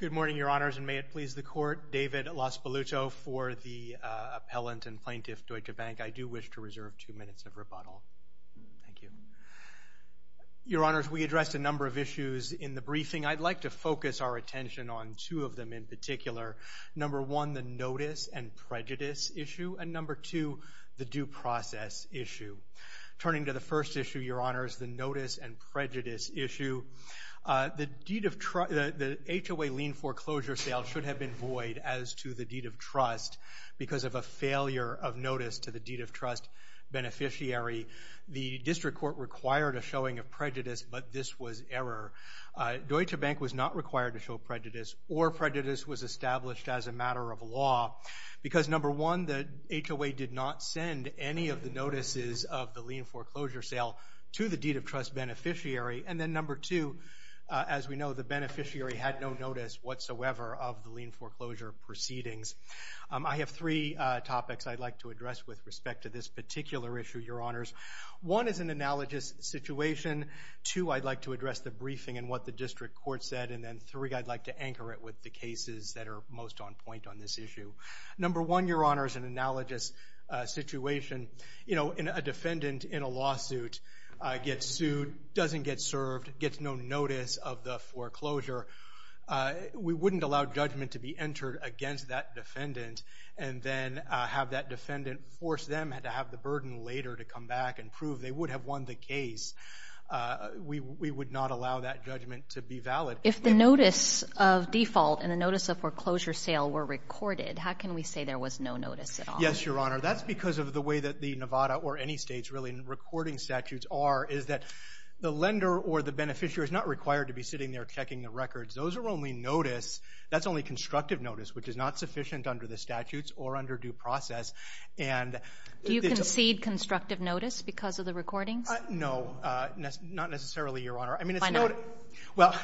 Good morning, Your Honors, and may it please the Court, David Lospaluto for the Appellant and Plaintiff Deutsche Bank. I do wish to reserve two minutes of rebuttal. Thank you. Your Honors, we addressed a number of issues in the briefing. I'd like to focus our attention on two of them in particular. Number one, the notice and prejudice issue, and number two, the due process issue. Turning to the first issue, Your Honors, the notice and prejudice issue, the HOA lien foreclosure sale should have been void as to the deed of trust because of a failure of notice to the deed of trust beneficiary. The District Court required a showing of prejudice, but this was error. Deutsche Bank was not required to show prejudice or prejudice was established as a matter of law because, number one, the HOA did not send any of the notices of the lien foreclosure sale to the deed of trust beneficiary, and then number two, as we know, the beneficiary had no notice whatsoever of the lien foreclosure proceedings. I have three topics I'd like to address with respect to this particular issue, Your Honors. One is an analogous situation. Two, I'd like to address the briefing and what the District Court said, and then three, I'd like to anchor it with the cases that are most on point on this issue. Number one, Your Honors, an analogous situation. You know, a defendant in a lawsuit gets sued, doesn't get served, gets no notice of the foreclosure. We wouldn't allow judgment to be entered against that defendant and then have that defendant force them to have the burden later to come back and prove they would have won the case. We would not allow that judgment to be valid. If the notice of default and the notice of foreclosure sale were recorded, how can we say there was no notice at all? Yes, Your Honor. That's because of the way that the Nevada or any states really in recording statutes are, is that the lender or the beneficiary is not required to be sitting there checking the records. Those are only notice. That's only constructive notice, which is not sufficient under the statutes or under due process, and Do you concede constructive notice because of the recordings? No, not necessarily, Your Honor. Why not? Well,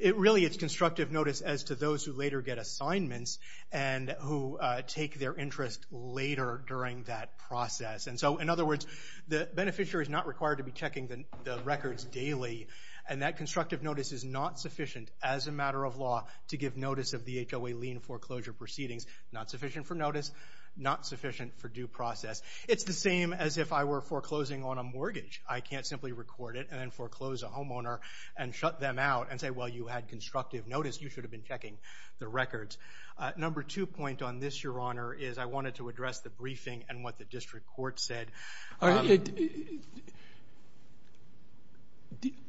it really is constructive notice as to those who later get assignments and who take their interest later during that process. And so, in other words, the beneficiary is not required to be checking the records daily, and that constructive notice is not sufficient as a matter of law to give notice of the HOA lien foreclosure proceedings. Not sufficient for notice, not sufficient for due process. It's the same as if I were foreclosing on a mortgage. I can't simply record it and then foreclose a homeowner and shut them out and say, well, you had constructive notice. You should have been checking the records. Number two point on this, Your Honor, is I wanted to address the briefing and what the District Court said.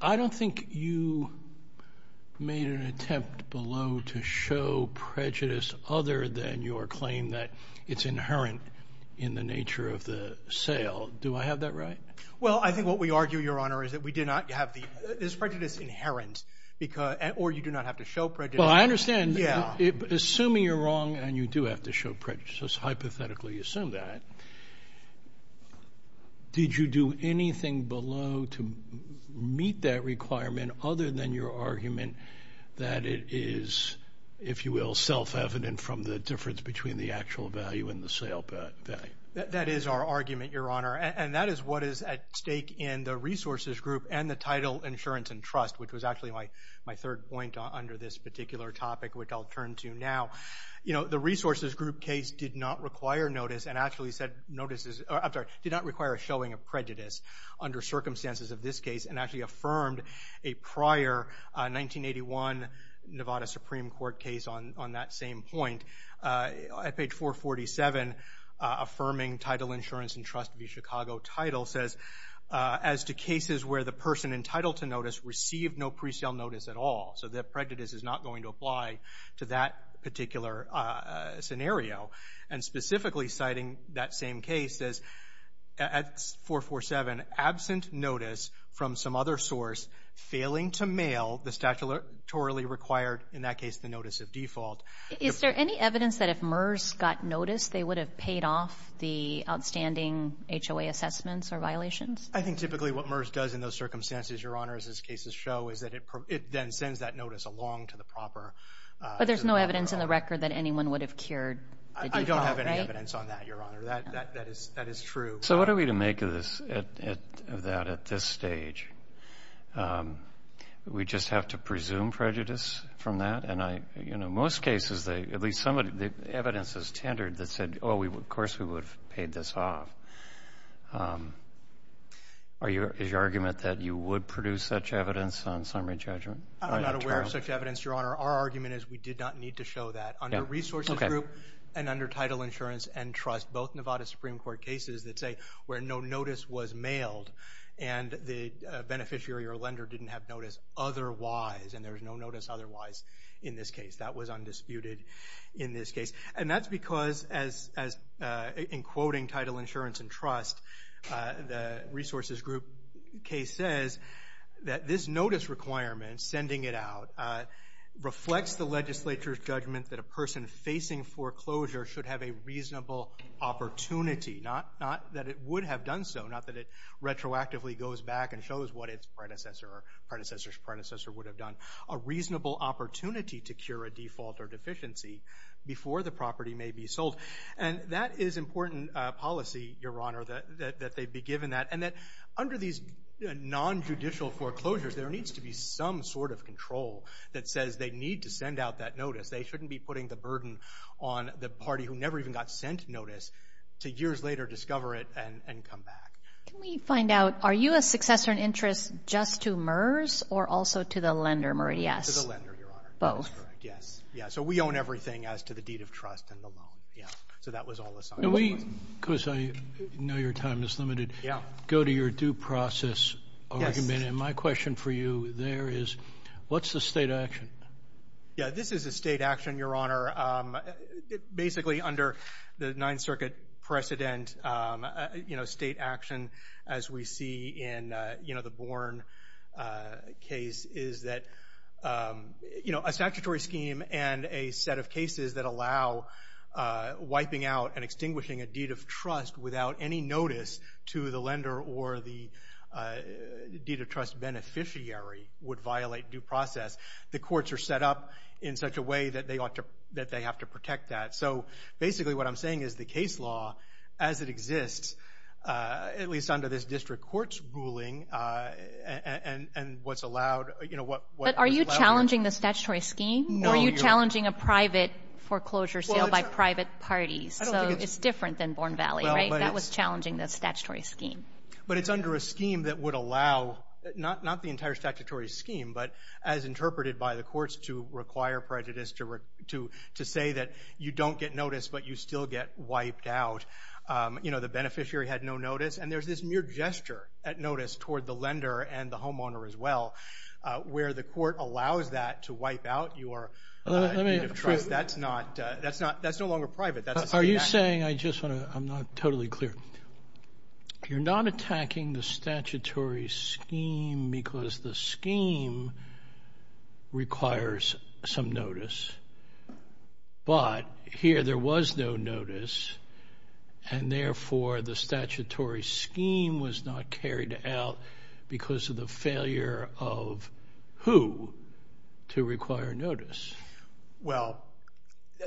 I don't think you made an attempt below to show prejudice other than your claim that it's Well, I think what we argue, Your Honor, is that we did not have the prejudice inherent or you do not have to show prejudice. Well, I understand. Assuming you're wrong and you do have to show prejudice, hypothetically assume that, did you do anything below to meet that requirement other than your argument that it is, if you will, self-evident from the difference between the actual value and the sale value? That is our argument, Your Honor, and that is what is at stake in the resources group and the title insurance and trust, which was actually my third point under this particular topic, which I'll turn to now. You know, the resources group case did not require notice and actually said notices, I'm sorry, did not require a showing of prejudice under circumstances of this case and actually affirmed a prior 1981 Nevada Supreme Court case on that same point. At page 447, affirming title insurance and trust v. Chicago title says, as to cases where the person entitled to notice received no presale notice at all, so the prejudice is not going to apply to that particular scenario. And specifically citing that same case as, at 447, absent notice from some other source, failing to mail the statutorily required, in that case, the notice of default. Is there any evidence that if MERS got notice, they would have paid off the outstanding HOA assessments or violations? I think typically what MERS does in those circumstances, Your Honor, as these cases show, is that it then sends that notice along to the proper... But there's no evidence in the record that anyone would have cured the default, right? I don't have any evidence on that, Your Honor. That is true. So what are we to make of this, of that at this stage? We just have to presume prejudice from that? And I, you know, most cases, at least some of the evidence is tendered that said, oh, of course we would have paid this off. Is your argument that you would produce such evidence on summary judgment? I'm not aware of such evidence, Your Honor. Our argument is we did not need to show that. Under Resources Group and under Title Insurance and Trust, both Nevada Supreme Court cases that say where no notice was mailed and the beneficiary or lender didn't have notice otherwise, and there was no notice otherwise in this case, that was undisputed in this case. And that's because, as in quoting Title Insurance and Trust, the Resources Group case says that this notice requirement, sending it out, reflects the legislature's judgment that a person facing foreclosure should have a reasonable opportunity, not that it would have done so, not that it retroactively goes back and shows what its predecessor or predecessor's predecessor would have done, a reasonable opportunity to cure a default or deficiency before the property may be sold. And that is important policy, Your Honor, that they be given that. And that under these non-judicial foreclosures, there needs to be some sort of control that says they need to send out that notice. They shouldn't be putting the burden on the party who never even got sent notice to years later discover it and come back. Can we find out, are you a successor in interest just to MERS or also to the lender, Murray? Yes. To the lender, Your Honor. Both. Yes. Yeah. So we own everything as to the deed of trust and the loan. Yeah. So that was all assigned to us. Can we, because I know your time is limited, go to your due process argument? Yes. And my question for you there is, what's the state action? Yeah, this is a state action, Your Honor. Basically under the Ninth Circuit precedent, you know, state action as we see in, you know, the Bourne case is that, you know, a statutory scheme and a set of cases that allow wiping out and extinguishing a deed of trust without any notice to the lender or the deed of trust beneficiary would violate due process. The courts are set up in such a way that they ought to, that they have to protect that. So basically what I'm saying is the case law as it exists, at least under this district court's ruling and what's allowed, you know, what is allowed. But are you challenging the statutory scheme or are you challenging a private foreclosure sale by private parties? So it's different than Bourne Valley, right? That was challenging the statutory scheme. But it's under a scheme that would allow, not the entire statutory scheme, but as interpreted by the courts to require prejudice, to say that you don't get notice, but you still get wiped out. You know, the beneficiary had no notice. And there's this mere gesture at notice toward the lender and the homeowner as well, where the court allows that to wipe out your deed of trust. If that's not, that's not, that's no longer private. Are you saying, I just want to, I'm not totally clear. You're not attacking the statutory scheme because the scheme requires some notice, but here there was no notice and therefore the statutory scheme was not carried out because of the failure of who to require notice. Well,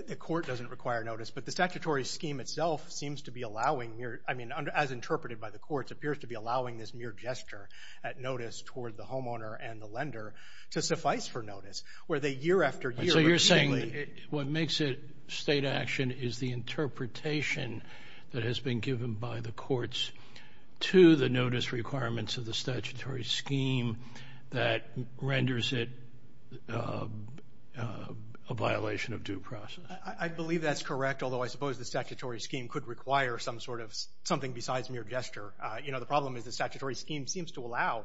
the court doesn't require notice, but the statutory scheme itself seems to be allowing mere, I mean, as interpreted by the courts, appears to be allowing this mere gesture at notice toward the homeowner and the lender to suffice for notice, where they year after year. So you're saying what makes it state action is the interpretation that has been given by the courts to the notice requirements of the statutory scheme that renders it a violation of due process. I believe that's correct, although I suppose the statutory scheme could require some sort of something besides mere gesture. You know, the problem is the statutory scheme seems to allow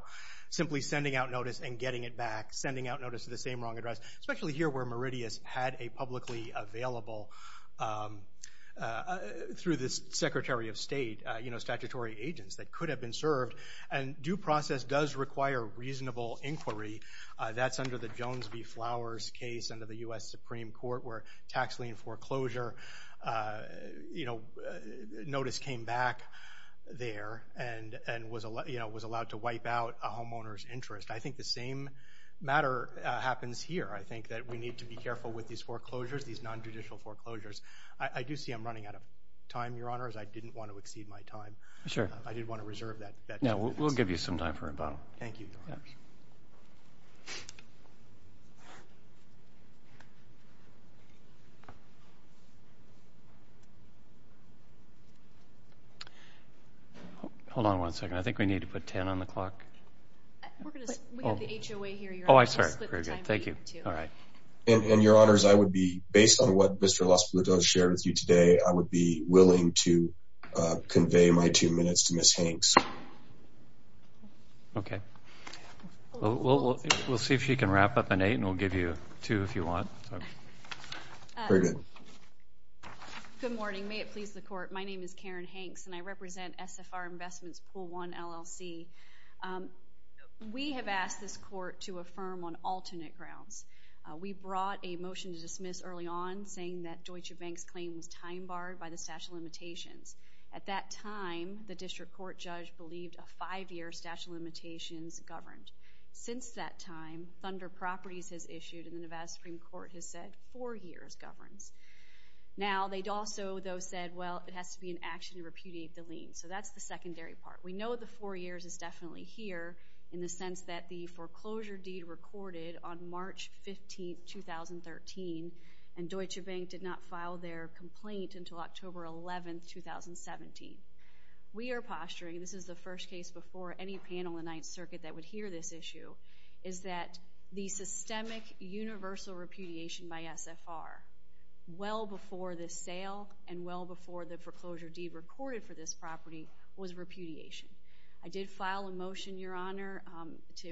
simply sending out notice and getting it back, sending out notice to the same wrong address, especially here where you know, statutory agents that could have been served, and due process does require reasonable inquiry. That's under the Jones v. Flowers case under the U.S. Supreme Court where tax lien foreclosure, you know, notice came back there and was allowed to wipe out a homeowner's interest. I think the same matter happens here. I think that we need to be careful with these foreclosures, these non-judicial foreclosures. I do see I'm running out of time, Your Honors. I didn't want to exceed my time. I didn't want to reserve that chance. We'll give you some time for rebuttal. Thank you, Your Honors. Hold on one second. I think we need to put 10 on the clock. We're going to split the time for you, too. I'm sorry, thank you, all right. And Your Honors, I would be, based on what Mr. LaSalle does share with you today, I would be willing to convey my two minutes to Ms. Hanks. Okay. We'll see if she can wrap up in eight, and we'll give you two if you want. Very good. Good morning. May it please the Court, my name is Karen Hanks, and I represent SFR Investments Pool One LLC. We have asked this Court to affirm on alternate grounds. We brought a motion to dismiss early on saying that Deutsche Bank's claim was time-barred by the statute of limitations. At that time, the district court judge believed a five-year statute of limitations governed. Since that time, Thunder Properties has issued, and the Nevada Supreme Court has said four years governs. Now, they'd also, though, said, well, it has to be an action to repudiate the lien. So that's the secondary part. We know the four years is definitely here in the sense that the foreclosure deed recorded on March 15, 2013, and Deutsche Bank did not file their complaint until October 11, 2017. We are posturing, and this is the first case before any panel in Ninth Circuit that would hear this issue, is that the systemic universal repudiation by SFR, well before this sale and well before the foreclosure deed recorded for this property, was repudiation. I did file a motion, Your Honor,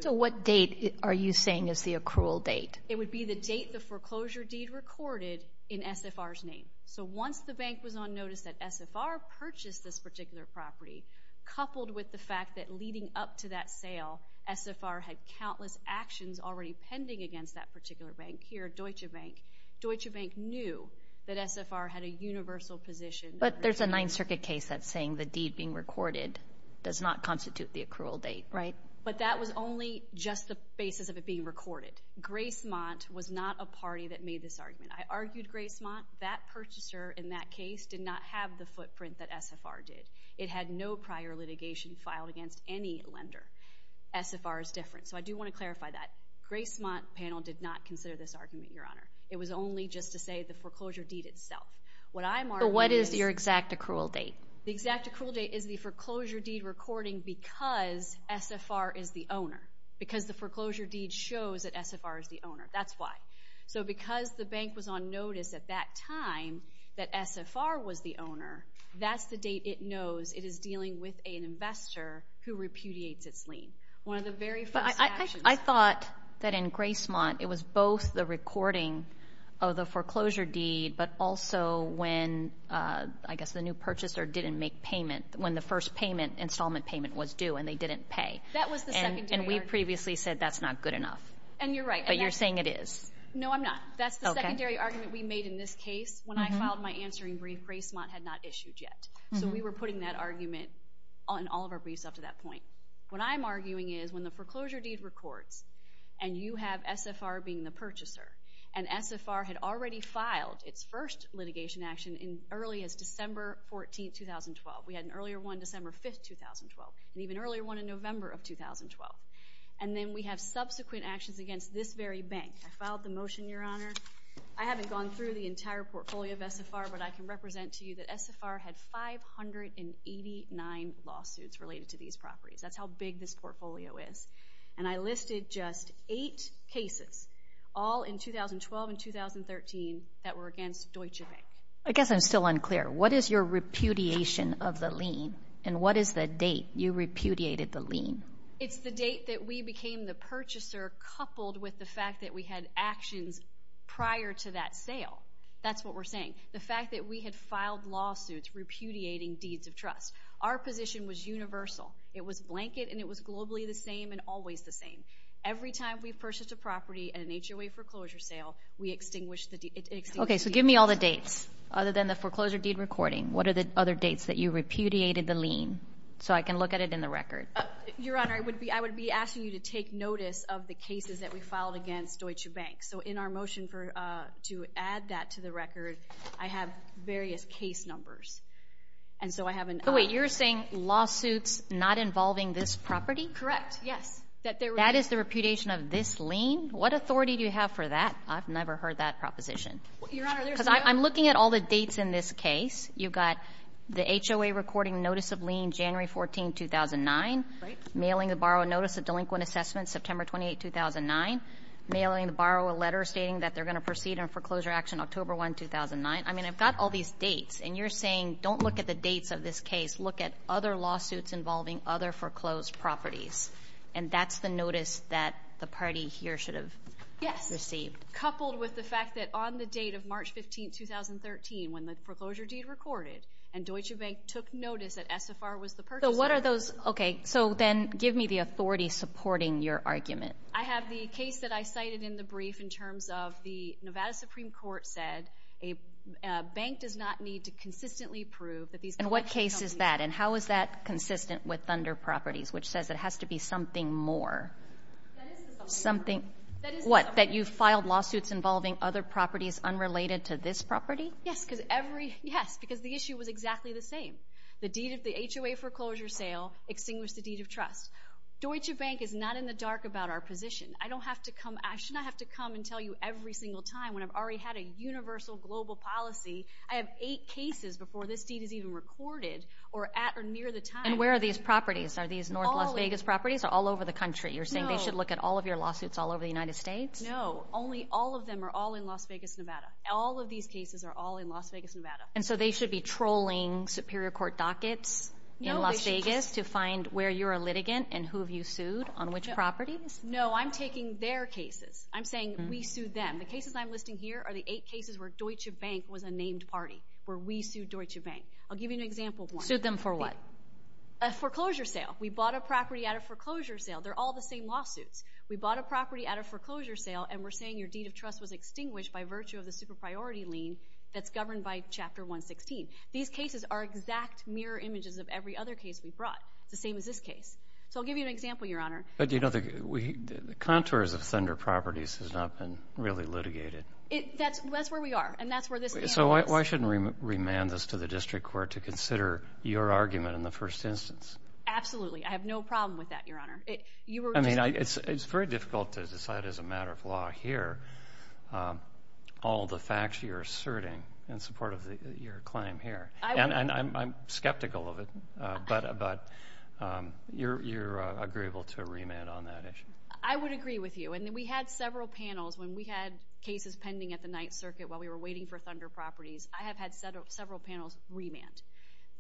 to... What date are you saying is the accrual date? It would be the date the foreclosure deed recorded in SFR's name. So once the bank was on notice that SFR purchased this particular property, coupled with the fact that leading up to that sale, SFR had countless actions already pending against that particular bank. Here, Deutsche Bank. Deutsche Bank knew that SFR had a universal position. But there's a Ninth Circuit case that's saying the deed being recorded does not constitute the accrual date. Right. But that was only just the basis of it being recorded. Gracemont was not a party that made this argument. I argued Gracemont. That purchaser in that case did not have the footprint that SFR did. It had no prior litigation filed against any lender. SFR is different, so I do want to clarify that. Gracemont panel did not consider this argument, Your Honor. It was only just to say the foreclosure deed itself. What I'm arguing is... But what is your exact accrual date? The exact accrual date is the foreclosure deed recording because SFR is the owner. Because the foreclosure deed shows that SFR is the owner. That's why. So because the bank was on notice at that time that SFR was the owner, that's the date it knows it is dealing with an investor who repudiates its lien. One of the very first actions... I thought that in Gracemont, it was both the recording of the foreclosure deed, but also when, I guess, the new purchaser didn't make payment, when the first installment payment was due and they didn't pay. That was the secondary argument. And we previously said that's not good enough. And you're right. But you're saying it is. No, I'm not. That's the secondary argument we made in this case. When I filed my answering brief, Gracemont had not issued yet. So we were putting that argument in all of our briefs up to that point. What I'm arguing is, when the foreclosure deed records, and you have SFR being the purchaser, and SFR had already filed its first litigation action as early as December 14, 2012. We had an earlier one December 5, 2012, and even earlier one in November of 2012. And then we have subsequent actions against this very bank. I filed the motion, Your Honor. I haven't gone through the entire portfolio of SFR, but I can represent to you that SFR had 589 lawsuits related to these properties. That's how big this portfolio is. And I listed just eight cases, all in 2012 and 2013, that were against Deutsche Bank. I guess I'm still unclear. What is your repudiation of the lien? And what is the date you repudiated the lien? It's the date that we became the purchaser, coupled with the fact that we had actions prior to that sale. That's what we're saying. The fact that we had filed lawsuits repudiating deeds of trust. Our position was universal. It was blanket, and it was globally the same and always the same. Every time we purchased a property at an HOA foreclosure sale, we extinguished the deed. Okay, so give me all the dates, other than the foreclosure deed recording. What are the other dates that you repudiated the lien, so I can look at it in the record? Your Honor, I would be asking you to take notice of the cases that we filed against Deutsche Bank. So in our motion to add that to the record, I have various case numbers. And so I have an... Wait, you're saying lawsuits not involving this property? Correct. Yes. That is the repudiation of this lien? What authority do you have for that? I've never heard that proposition. Your Honor, there's... Because I'm looking at all the dates in this case. You've got the HOA recording notice of lien January 14, 2009, mailing the borrower notice of delinquent assessment September 28, 2009, mailing the borrower letter stating that they're going to proceed on foreclosure action October 1, 2009. I mean, I've got all these dates, and you're saying, don't look at the dates of this case. Look at other lawsuits involving other foreclosed properties. And that's the notice that the party here should have received? Yes. Coupled with the fact that on the date of March 15, 2013, when the foreclosure deed recorded and Deutsche Bank took notice that SFR was the purchaser. So what are those? Okay. So then give me the authority supporting your argument. I have the case that I cited in the brief in terms of the Nevada Supreme Court said a bank does not need to consistently prove that these... And what case is that? And how is that consistent with Thunder Properties, which says it has to be something more? That is the something more. Something... That is the something more. What? That you filed lawsuits involving other properties unrelated to this property? Yes. Because every... Yes. Because the issue was exactly the same. The deed of the HOA foreclosure sale extinguished the deed of trust. Deutsche Bank is not in the dark about our position. I don't have to come... I should not have to come and tell you every single time when I've already had a universal global policy. I have eight cases before this deed is even recorded or at or near the time... And where are these properties? Are these North Las Vegas properties? All of them. Or all over the country? No. You're saying they should look at all of your lawsuits all over the United States? Only all of them are all in Las Vegas, Nevada. All of these cases are all in Las Vegas, Nevada. And so they should be trolling superior court dockets in Las Vegas to find where you're a litigant and who have you sued on which properties? No. I'm taking their cases. I'm saying we sued them. The cases I'm listing here are the eight cases where Deutsche Bank was a named party, where we sued Deutsche Bank. I'll give you an example of one. Sued them for what? A foreclosure sale. We bought a property at a foreclosure sale. They're all the same lawsuits. We bought a property at a foreclosure sale and we're saying your deed of trust was extinguished by virtue of the super-priority lien that's governed by Chapter 116. These cases are exact mirror images of every other case we've brought. It's the same as this case. So I'll give you an example, Your Honor. But do you know the contours of Thunder Properties has not been really litigated? That's where we are. And that's where this case is. So why shouldn't we remand this to the district court to consider your argument in the first instance? Absolutely. I have no problem with that, Your Honor. I mean, it's very difficult to decide as a matter of law here all the facts you're asserting in support of your claim here. And I'm skeptical of it, but you're agreeable to remand on that issue. I would agree with you. And we had several panels when we had cases pending at the Ninth Circuit while we were waiting for Thunder Properties. I have had several panels remand.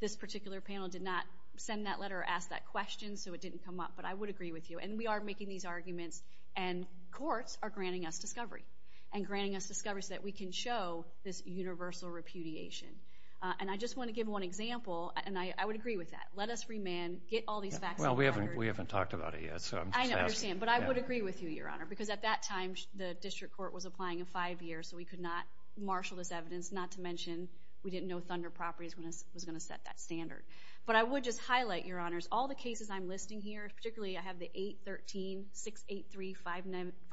This particular panel did not send that letter or ask that question, so it didn't come up. But I would agree with you. And we are making these arguments, and courts are granting us discovery, and granting us discovery so that we can show this universal repudiation. And I just want to give one example, and I would agree with that. Let us remand. Get all these facts out there. Well, we haven't talked about it yet, so I'm just asking. I understand. But I would agree with you, Your Honor. Because at that time, the district court was applying a five-year, so we could not marshal this evidence, not to mention we didn't know Thunder Properties was going to set that standard. But I would just highlight, Your Honors, all the cases I'm listing here, particularly I have the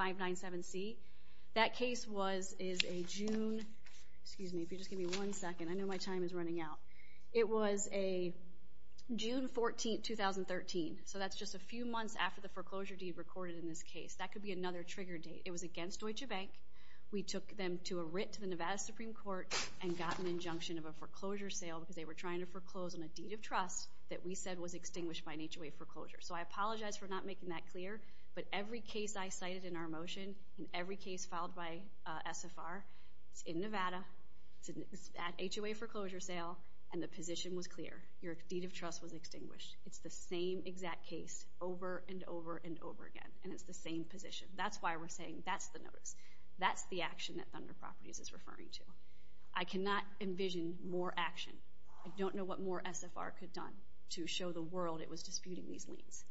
813-683-597C. That case was a June—excuse me, if you'll just give me one second. I know my time is running out. It was a June 14, 2013. So that's just a few months after the foreclosure deed recorded in this case. That could be another trigger date. It was against Deutsche Bank. We took them to a writ to the Nevada Supreme Court and got an injunction of a foreclosure sale because they were trying to foreclose on a deed of trust that we said was extinguished by an HOA foreclosure. So I apologize for not making that clear, but every case I cited in our motion and every case filed by SFR, it's in Nevada, it's an HOA foreclosure sale, and the position was clear. Your deed of trust was extinguished. It's the same exact case over and over and over again, and it's the same position. That's why we're saying that's the notice. That's the action that Thunder Properties is referring to. I cannot envision more action. I don't know what more SFR could have done to show the world it was disputing these liens.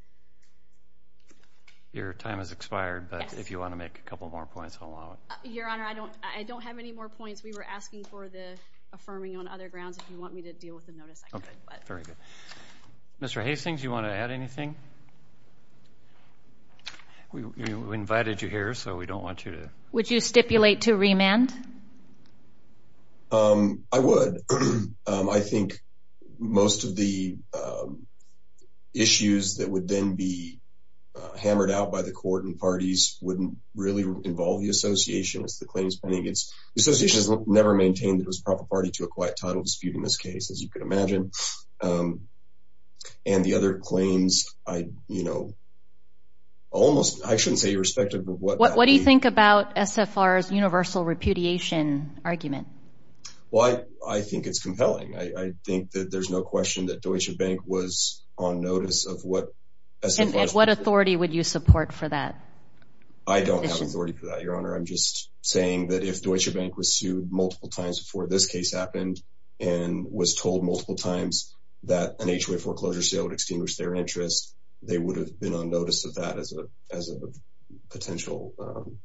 Your time has expired, but if you want to make a couple more points, I'll allow it. Your Honor, I don't have any more points. We were asking for the affirming on other grounds. If you want me to deal with the notice, I could. Mr. Hastings, do you want to add anything? We invited you here, so we don't want you to... I would. I think most of the issues that would then be hammered out by the court and parties wouldn't really involve the association as the claim is pending. The association has never maintained that it was a proper party to a quiet title dispute in this case, as you can imagine, and the other claims, I shouldn't say irrespective of what... What do you think about SFR's universal repudiation argument? I think it's compelling. I think that there's no question that Deutsche Bank was on notice of what SFR... What authority would you support for that? I don't have authority for that, Your Honor. I'm just saying that if Deutsche Bank was sued multiple times before this case happened and was told multiple times that an HOA foreclosure sale would extinguish their interest, they would have been on notice of that as a potential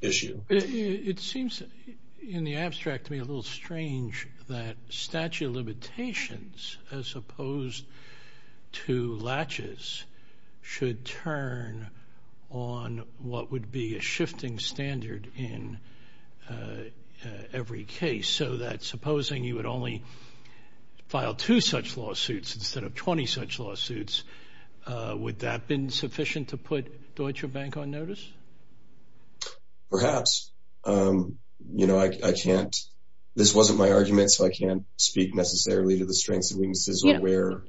issue. It seems in the abstract to me a little strange that statute of limitations as opposed to latches should turn on what would be a shifting standard in every case, so that supposing you would only file two such lawsuits instead of 20 such lawsuits, would that been sufficient to put Deutsche Bank on notice? Perhaps. You know, I can't... This wasn't my argument, so I can't speak necessarily to the strengths and weaknesses of where...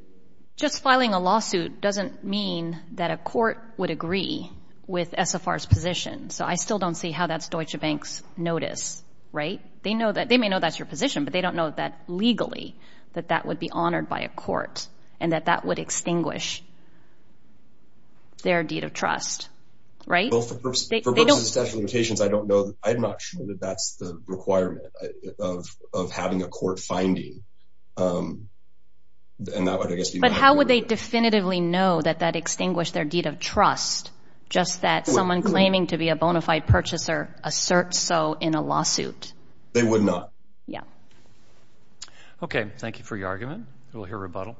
Just filing a lawsuit doesn't mean that a court would agree with SFR's position, so I still don't see how that's Deutsche Bank's notice, right? They may know that's your position, but they don't know that legally that that would be honored by a court and that that would extinguish their deed of trust, right? Well, for purposes of statute of limitations, I don't know... I'm not sure that that's the requirement of having a court finding, and that would, I guess, be my... But how would they definitively know that that extinguished their deed of trust, just that someone claiming to be a bona fide purchaser asserts so in a lawsuit? They would not. Yeah. Okay. Thank you for your argument. We'll hear rebuttal.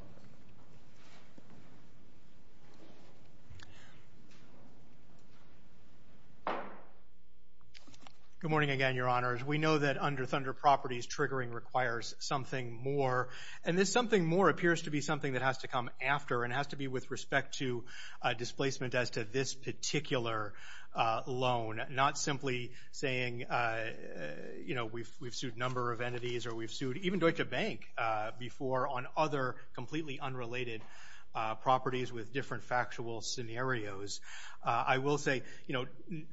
Good morning again, Your Honors. We know that under Thunder Properties, triggering requires something more, and this something more appears to be something that has to come after and has to be with respect to displacement as to this particular loan, not simply saying, you know, we've sued a number of entities or we've sued even Deutsche Bank before on other completely unrelated properties with different factual scenarios. I will say, you know,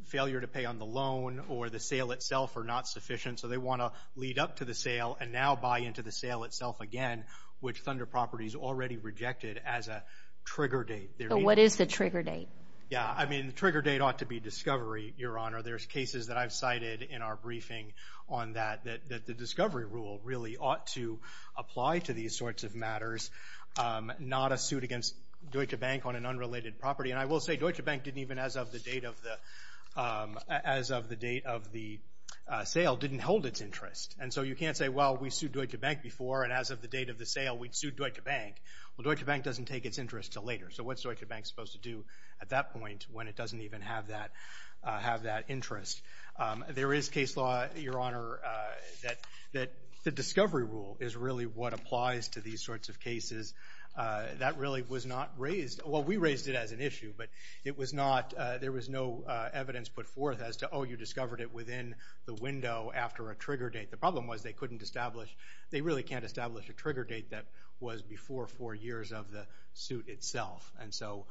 failure to pay on the loan or the sale itself are not sufficient, so they want to lead up to the sale and now buy into the sale itself again, which Thunder Properties already rejected as a trigger date. So what is the trigger date? Yeah. I mean, the trigger date ought to be discovery, Your Honor. There's cases that I've cited in our briefing on that, that the discovery rule really ought to apply to these sorts of matters, not a suit against Deutsche Bank on an unrelated property. And I will say, Deutsche Bank didn't even, as of the date of the sale, didn't hold its interest. And so you can't say, well, we sued Deutsche Bank before, and as of the date of the sale, we'd sued Deutsche Bank. Well, Deutsche Bank doesn't take its interest until later. So what's Deutsche Bank supposed to do at that point when it doesn't even have that interest? There is case law, Your Honor, that the discovery rule is really what applies to these sorts of cases. That really was not raised. Well, we raised it as an issue, but it was not, there was no evidence put forth as to, oh, you discovered it within the window after a trigger date. The problem was they couldn't establish, they really can't establish a trigger date that was before four years of the suit itself. And so,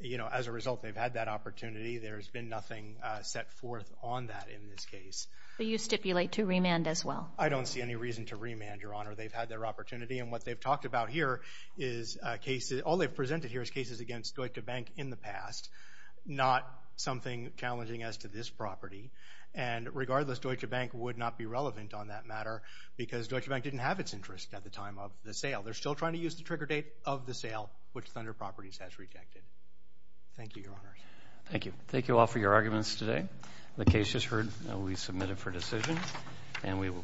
you know, as a result, they've had that opportunity. There's been nothing set forth on that in this case. Do you stipulate to remand as well? I don't see any reason to remand, Your Honor. They've had their opportunity. And what they've talked about here is cases, all they've presented here is cases against Deutsche Bank in the past, not something challenging as to this property. And regardless, Deutsche Bank would not be relevant on that matter because Deutsche Bank didn't have its interest at the time of the sale. They're still trying to use the trigger date of the sale, which Thunder Properties has rejected. Thank you, Your Honor. Thank you. Thank you all for your arguments today. The case is heard. We submit it for decision, and we will